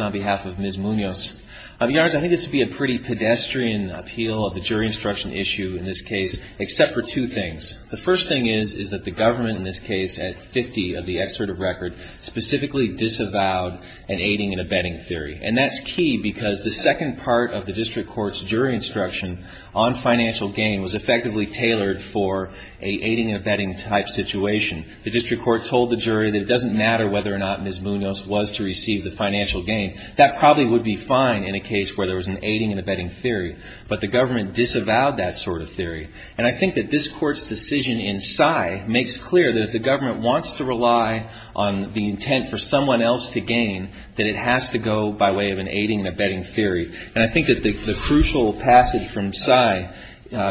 on behalf of Ms. Munoz. I think this would be a pretty pedestrian appeal of the jury instruction issue in this case, except for two things. The first thing is, is that the government in this case, at 50 of the excerpt of record, specifically disavowed an aiding and abetting theory. And that's key because the second part of the district court's jury instruction on financial gain was effectively tailored for an aiding and abetting type situation. The district court told the jury that it doesn't matter whether or not Ms. Munoz was to receive the financial gain. That probably would be fine in a case where there was an aiding and abetting theory. But the government disavowed that sort of theory. And I think that this court's decision in Sai makes clear that if the government wants to rely on the intent for someone else to gain, that it has to go by way of an aiding and abetting theory. And I think that the crucial passage from Sai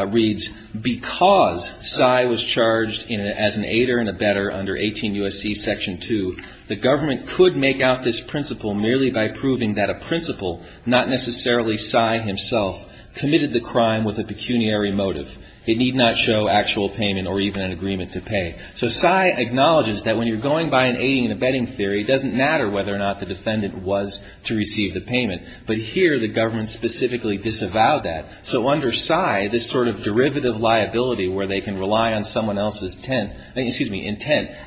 reads, because Sai was charged as an aider and abetter under 18 U.S.C. Section 2, the government could not make out this principle merely by proving that a principal, not necessarily Sai himself, committed the crime with a pecuniary motive. It need not show actual payment or even an agreement to pay. So Sai acknowledges that when you're going by an aiding and abetting theory, it doesn't matter whether or not the defendant was to receive the payment. But here, the government specifically disavowed that. So under Sai, this sort of derivative liability where they can rely on someone else's intent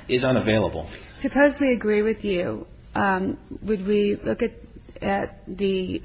is unavailable. Suppose we agree with you. Would we look at the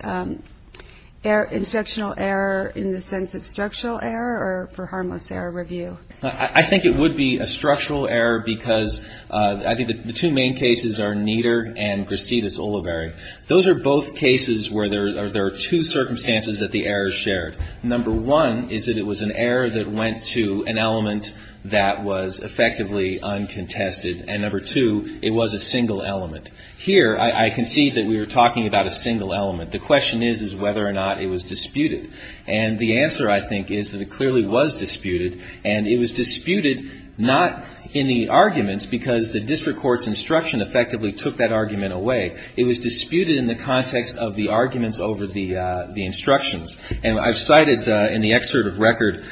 instructional error in the sense of structural error or for harmless error review? I think it would be a structural error because I think the two main cases are Nieder and Brasidas-Oliveri. Those are both cases where there are two circumstances that the errors shared. Number one is that it was an error that went to an element that was effectively uncontested. And number two, it was a single element. Here, I concede that we were talking about a single element. The question is, is whether or not it was disputed. And the answer, I think, is that it clearly was disputed. And it was disputed not in the arguments because the district court's instruction effectively took that argument away. It was disputed in the context of the arguments over the instructions. And I've cited in the excerpt of record,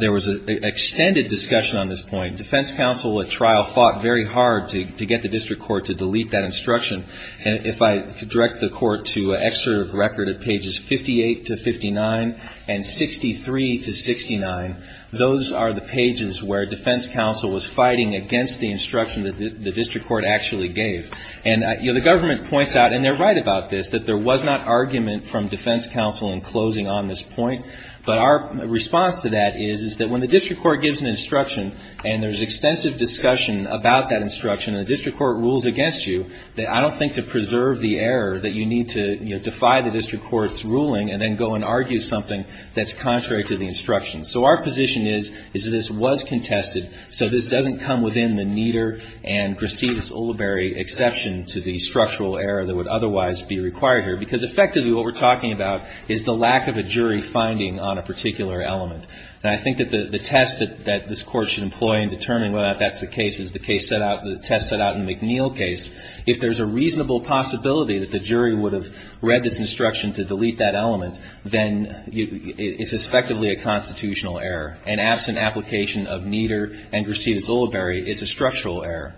there was an extended discussion on this point. Defense counsel at trial fought very hard to get the district court to delete that instruction. And if I direct the court to an excerpt of record at pages 58 to 59 and 63 to 69, those are the pages where defense counsel was fighting against the instruction that the district court actually gave. And, you know, the government points out, and they're right about this, that there was not argument from defense counsel in closing on this point. But our response to that is, is that when the district court gives an instruction and there's extensive discussion about that instruction and the district court rules against you, that I don't think to preserve the error that you need to, you know, defy the district court's ruling and then go and argue something that's contrary to the instruction. So our position is, is that this was contested, so this doesn't come within the Nieder and Grassides-Ulibarri exception to the structural error that would otherwise be required here, because effectively what we're talking about is the lack of a jury finding on a particular element. And I think that the test that this Court should employ in determining whether or not that's the case is the case set out, the test set out in the McNeil case. If there's a reasonable possibility that the jury would have read this instruction to delete that element, then it's effectively a constitutional error. An absent application of Nieder and Grassides-Ulibarri is a structural error.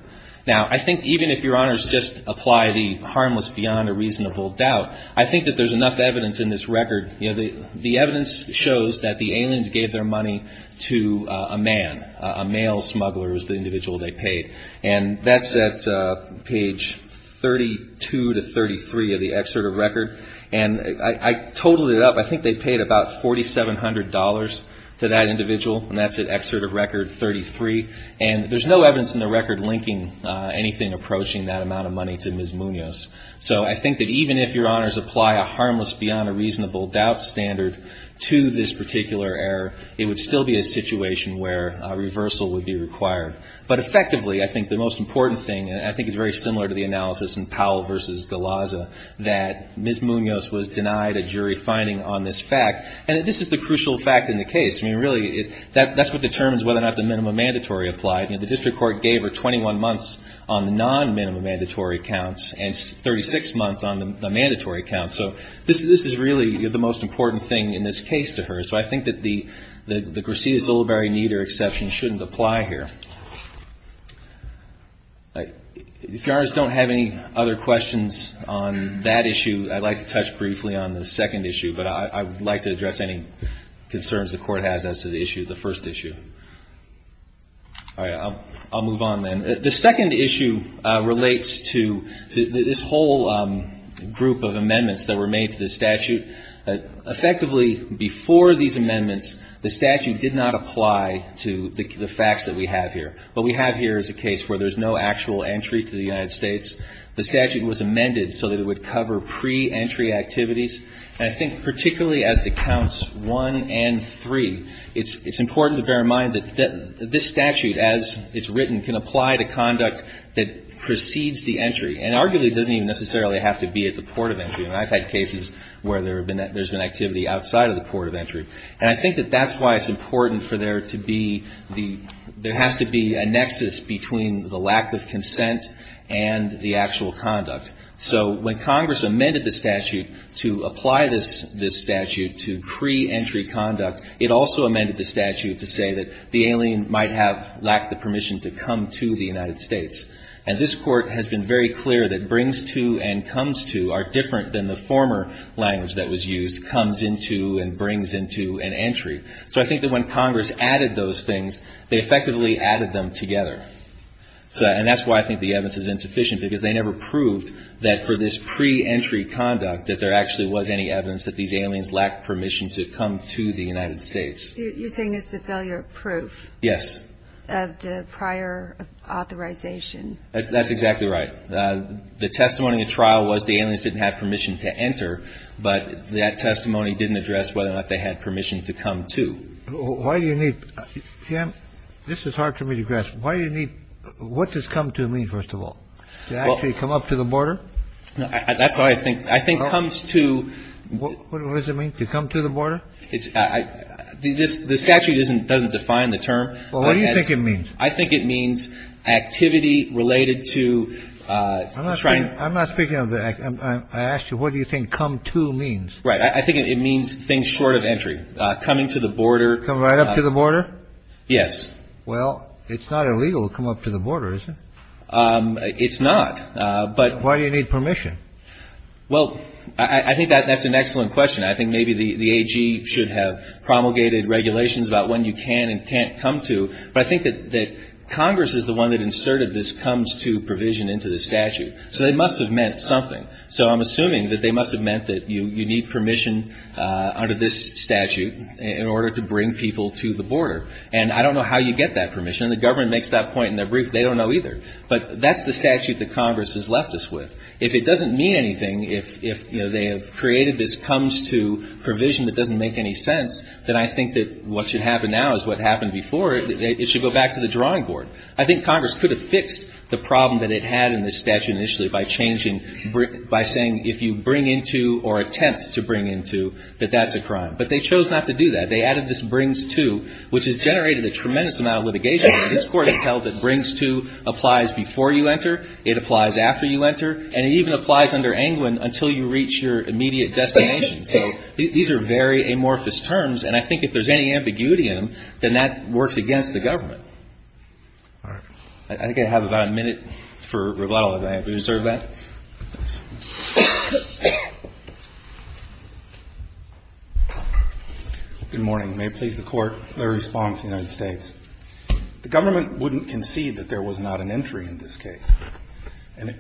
Now, I think even if Your Honors just apply the harmless beyond a reasonable doubt, I think that there's enough evidence in this record. You know, the evidence shows that the aliens gave their money to a man, a male smuggler was the individual they paid. And that's at page 32 to 33 of the excerpt of record. And I totaled it up. I think they paid about $4,700 to that individual. And that's at excerpt of record 33. And there's no evidence in the record linking anything approaching that amount of money to Ms. Munoz. So I think that even if Your Honors apply a harmless beyond a reasonable doubt standard to this particular error, it would still be a situation where a reversal would be required. But effectively, I think the most important thing, and I think it's very similar to the analysis in Powell v. Galazza, that Ms. Munoz was denied a jury finding on this fact. And this is the crucial fact in the case. I mean, really, that's what determines whether or not the minimum mandatory applied. You know, the district court gave her 21 months on the non-minimum mandatory counts and 36 months on the mandatory counts. So this is really the most important thing in this case to her. So I think that the Grassides-Ulibarri-Nieder exception shouldn't apply here. If Your Honors don't have any other questions on that issue, I'd like to touch briefly on the second issue. But I would like to address any concerns the Court has as to the issue, the first issue. All right. I'll move on then. The second issue relates to this whole group of amendments that were made to the statute. Effectively, before these amendments, the case where there's no actual entry to the United States, the statute was amended so that it would cover pre-entry activities. And I think particularly as to counts one and three, it's important to bear in mind that this statute, as it's written, can apply to conduct that precedes the entry, and arguably doesn't even necessarily have to be at the port of entry. I've had cases where there's been activity outside of the port of entry. And I think that that's why it's important for there to be the, there has to be a nexus between the lack of consent and the actual conduct. So when Congress amended the statute to apply this statute to pre-entry conduct, it also amended the statute to say that the alien might have lacked the permission to come to the United States. And this Court has been very clear that brings to and comes to are different than the former language that was used, comes into and brings into and entry. So I think that when Congress added those things, they effectively added them together. And that's why I think the evidence is insufficient, because they never proved that for this pre-entry conduct that there actually was any evidence that these aliens lacked permission to come to the United States. You're saying it's a failure of proof. Yes. Of the prior authorization. That's exactly right. The testimony in trial was the aliens didn't have permission to enter, but that testimony didn't address whether or not they had permission to come to. Why do you need, Sam, this is hard for me to grasp. Why do you need, what does come to mean, first of all? To actually come up to the border? That's what I think. I think comes to. What does it mean, to come to the border? The statute doesn't define the term. Well, what do you think it means? I think it means activity related to trying. I'm not speaking of the act. I asked you, what do you think come to means? Right. I think it means things short of entry, coming to the border. Come right up to the border? Yes. Well, it's not illegal to come up to the border, is it? It's not, but. Why do you need permission? Well, I think that's an excellent question. I think maybe the AG should have promulgated regulations about when you can and can't come to. But I think that Congress is the one that inserted this comes to provision into the statute. So they must have meant something. So I'm assuming that they must have meant that you need permission under this statute in order to bring people to the border. And I don't know how you get that permission. The government makes that point in their brief. They don't know either. But that's the statute that Congress has left us with. If it doesn't mean anything, if they have created this comes to provision that doesn't make any sense, then I think that what should happen now is what happened before. It should go back to the drawing board. I think Congress could have fixed the problem that it had in this statute initially by changing, by saying if you bring into or attempt to bring into, that that's a crime. But they chose not to do that. They added this brings to, which has generated a tremendous amount of litigation. This Court has held that brings to applies before you enter. It applies after you enter. And it even applies under Angwin until you reach your immediate destination. So these are very amorphous terms. And I think if there's any ambiguity in them, then that works against the government. I think I have about a minute for rebuttal if I have to reserve that. Roberts. Good morning. May it please the Court, the response to the United States. The government wouldn't concede that there was not an entry in this case. And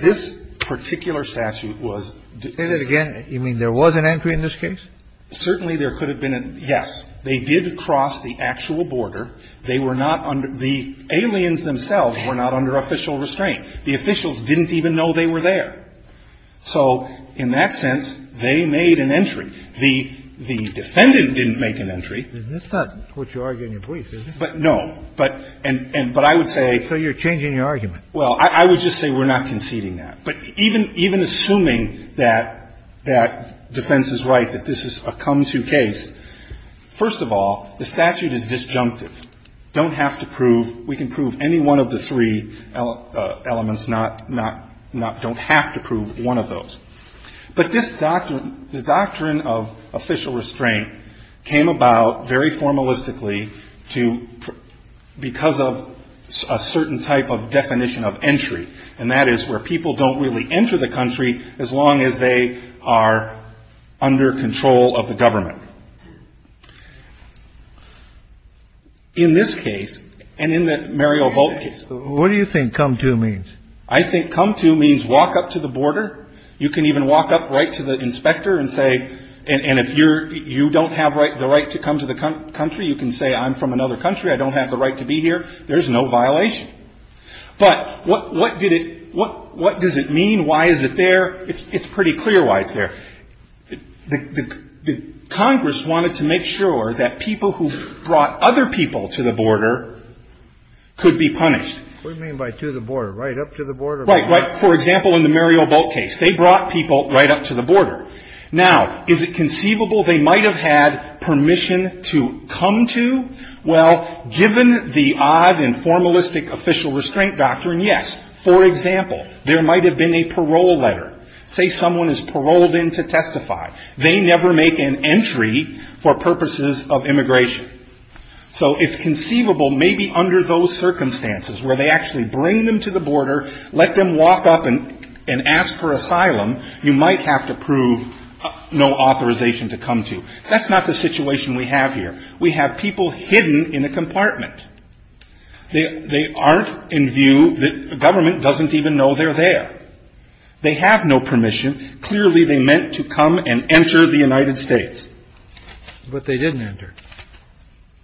this particular statute was. Say that again. You mean there was an entry in this case? Certainly there could have been. Yes. They did cross the actual border. They were not under the aliens themselves were not under official restraint. The officials didn't even know they were there. So in that sense, they made an entry. The defendant didn't make an entry. That's not what you argue in your brief, is it? No. But I would say. So you're changing your argument. Well, I would just say we're not conceding that. But even assuming that defense is right, that this is a come-to case, first of all, the statute is disjunctive. Don't have to prove. We can prove any one of the three elements, not don't have to prove one of those. But this doctrine, the doctrine of official restraint, came about very formalistically to because of a certain type of definition of entry. And that is where people don't really enter the country as long as they are under control of the government. In this case, and in the Mario Bolt case. What do you think come-to means? I think come-to means walk up to the border. You can even walk up right to the inspector and say. And if you don't have the right to come to the country, you can say I'm from another country. I don't have the right to be here. There's no violation. But what does it mean? Why is it there? It's pretty clear why it's there. Congress wanted to make sure that people who brought other people to the border could be punished. What do you mean by to the border? Right up to the border? Right. For example, in the Mario Bolt case, they brought people right up to the border. Now, is it conceivable they might have had permission to come to? Well, given the odd and formalistic official restraint doctrine, yes. For example, there might have been a parole letter. Say someone is paroled in to testify. They never make an entry for purposes of immigration. So it's conceivable maybe under those circumstances where they actually bring them to the border, let them walk up and ask for asylum, you might have to prove no authorization to come to. That's not the situation we have here. We have people hidden in a compartment. They aren't in view. The government doesn't even know they're there. They have no permission. Clearly, they meant to come and enter the United States. But they didn't enter.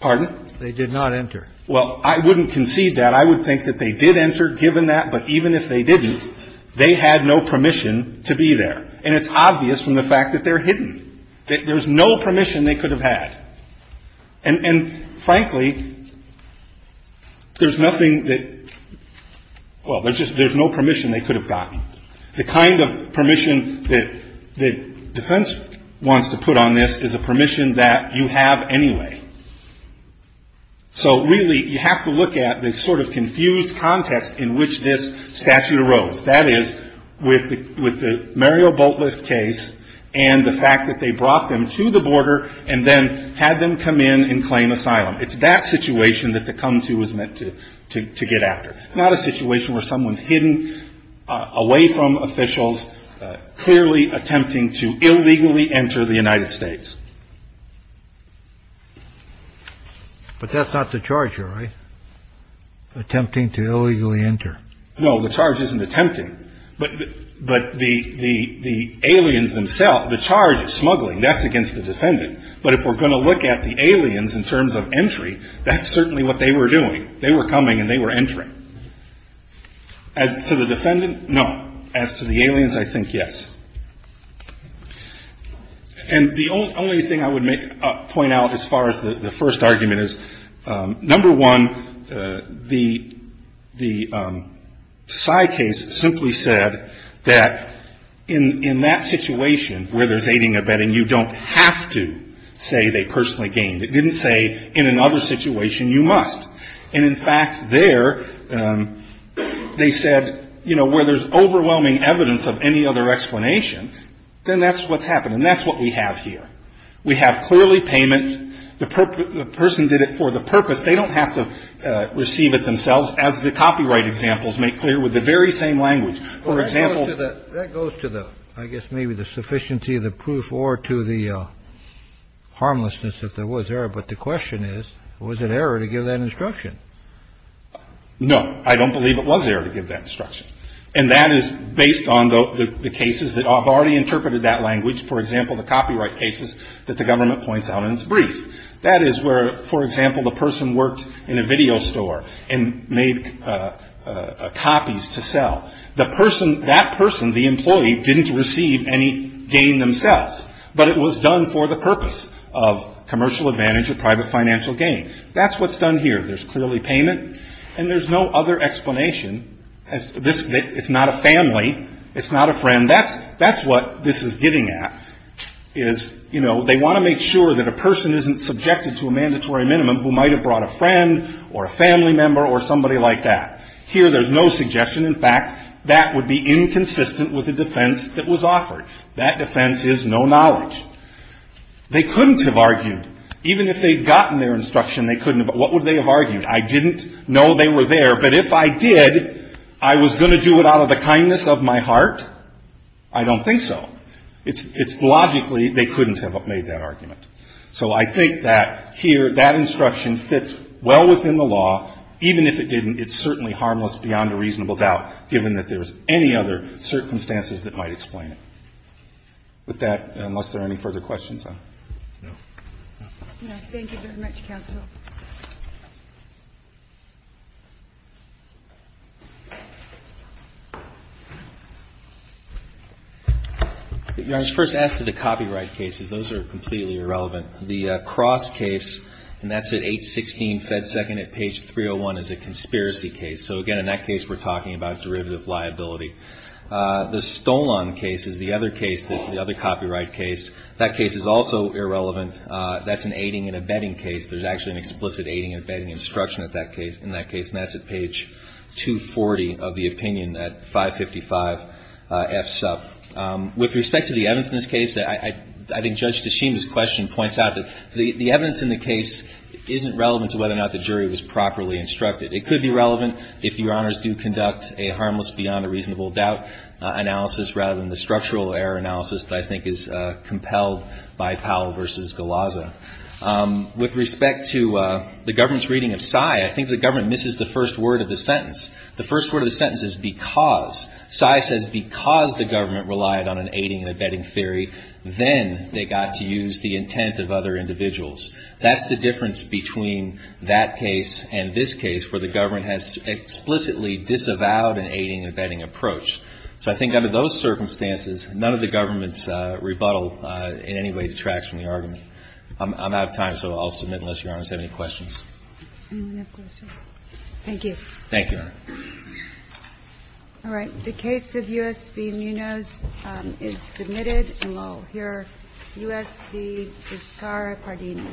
Pardon? They did not enter. Well, I wouldn't concede that. I would think that they did enter, given that. But even if they didn't, they had no permission to be there. And it's obvious from the fact that they're hidden, that there's no permission they could have had. And, frankly, there's nothing that — well, there's no permission they could have gotten. The kind of permission that defense wants to put on this is a permission that you have anyway. So, really, you have to look at the sort of confused context in which this statute arose. That is, with the Mario Boltlev case and the fact that they brought them to the border and then had them come in and claim asylum. It's that situation that the come-to was meant to get after, not a situation where someone's hidden away from officials, clearly attempting to illegally enter the United States. But that's not the charge here, right? Attempting to illegally enter. No, the charge isn't attempting. But the aliens themselves, the charge is smuggling. That's against the defendant. But if we're going to look at the aliens in terms of entry, that's certainly what they were doing. They were coming and they were entering. As to the defendant, no. As to the aliens, I think yes. And the only thing I would point out as far as the first argument is, number one, the side case simply said that in that situation where there's aiding and abetting, you don't have to say they personally gained. It didn't say in another situation you must. And, in fact, there, they said, you know, where there's overwhelming evidence of any other explanation, then that's what's happened. And that's what we have here. We have clearly payment. The person did it for the purpose. They don't have to receive it themselves as the copyright examples make clear with the very same language. For example. That goes to the I guess maybe the sufficiency of the proof or to the harmlessness if there was error. But the question is, was it error to give that instruction? No, I don't believe it was error to give that instruction. And that is based on the cases that have already interpreted that language. For example, the copyright cases that the government points out in its brief. That is where, for example, the person worked in a video store and made copies to sell. The person, that person, the employee, didn't receive any gain themselves. But it was done for the purpose of commercial advantage or private financial gain. That's what's done here. There's clearly payment. And there's no other explanation. It's not a family. It's not a friend. That's what this is getting at. Is, you know, they want to make sure that a person isn't subjected to a mandatory minimum who might have brought a friend or a family member or somebody like that. Here there's no suggestion. In fact, that would be inconsistent with the defense that was offered. That defense is no knowledge. They couldn't have argued. Even if they'd gotten their instruction, they couldn't have. What would they have argued? I didn't know they were there. But if I did, I was going to do it out of the kindness of my heart? I don't think so. It's logically they couldn't have made that argument. So I think that here, that instruction fits well within the law. Even if it didn't, it's certainly harmless beyond a reasonable doubt, given that there's any other circumstances that might explain it. With that, unless there are any further questions. No? No. Thank you very much, Counsel. I was first asked to the copyright cases. Those are completely irrelevant. The Cross case, and that's at 816 Fed Second at page 301, is a conspiracy case. So, again, in that case we're talking about derivative liability. The Stolon case is the other case, the other copyright case. That case is also irrelevant. That's an aiding and abetting case. There's actually an explicit aiding and abetting instruction in that case. And that's at page 240 of the opinion at 555 F. Sub. With respect to the evidence in this case, I think Judge Teshim's question points out that the evidence in the case isn't relevant to whether or not the jury was properly instructed. It could be relevant if Your Honors do conduct a harmless beyond a reasonable doubt analysis, rather than the structural error analysis that I think is compelled by Powell v. Galazza. With respect to the government's reading of Sai, I think the government misses the first word of the sentence. The first word of the sentence is because. Sai says because the government relied on an aiding and abetting theory, then they got to use the intent of other individuals. That's the difference between that case and this case, where the government has explicitly disavowed an aiding and abetting approach. So I think under those circumstances, none of the government's rebuttal in any way detracts from the argument. I'm out of time, so I'll submit unless Your Honors have any questions. Any questions? Thank you. Thank you, Your Honor. All right. The case of U.S. v. Munoz is submitted. And we'll hear U.S. v. Iskara-Pardini. Thank you.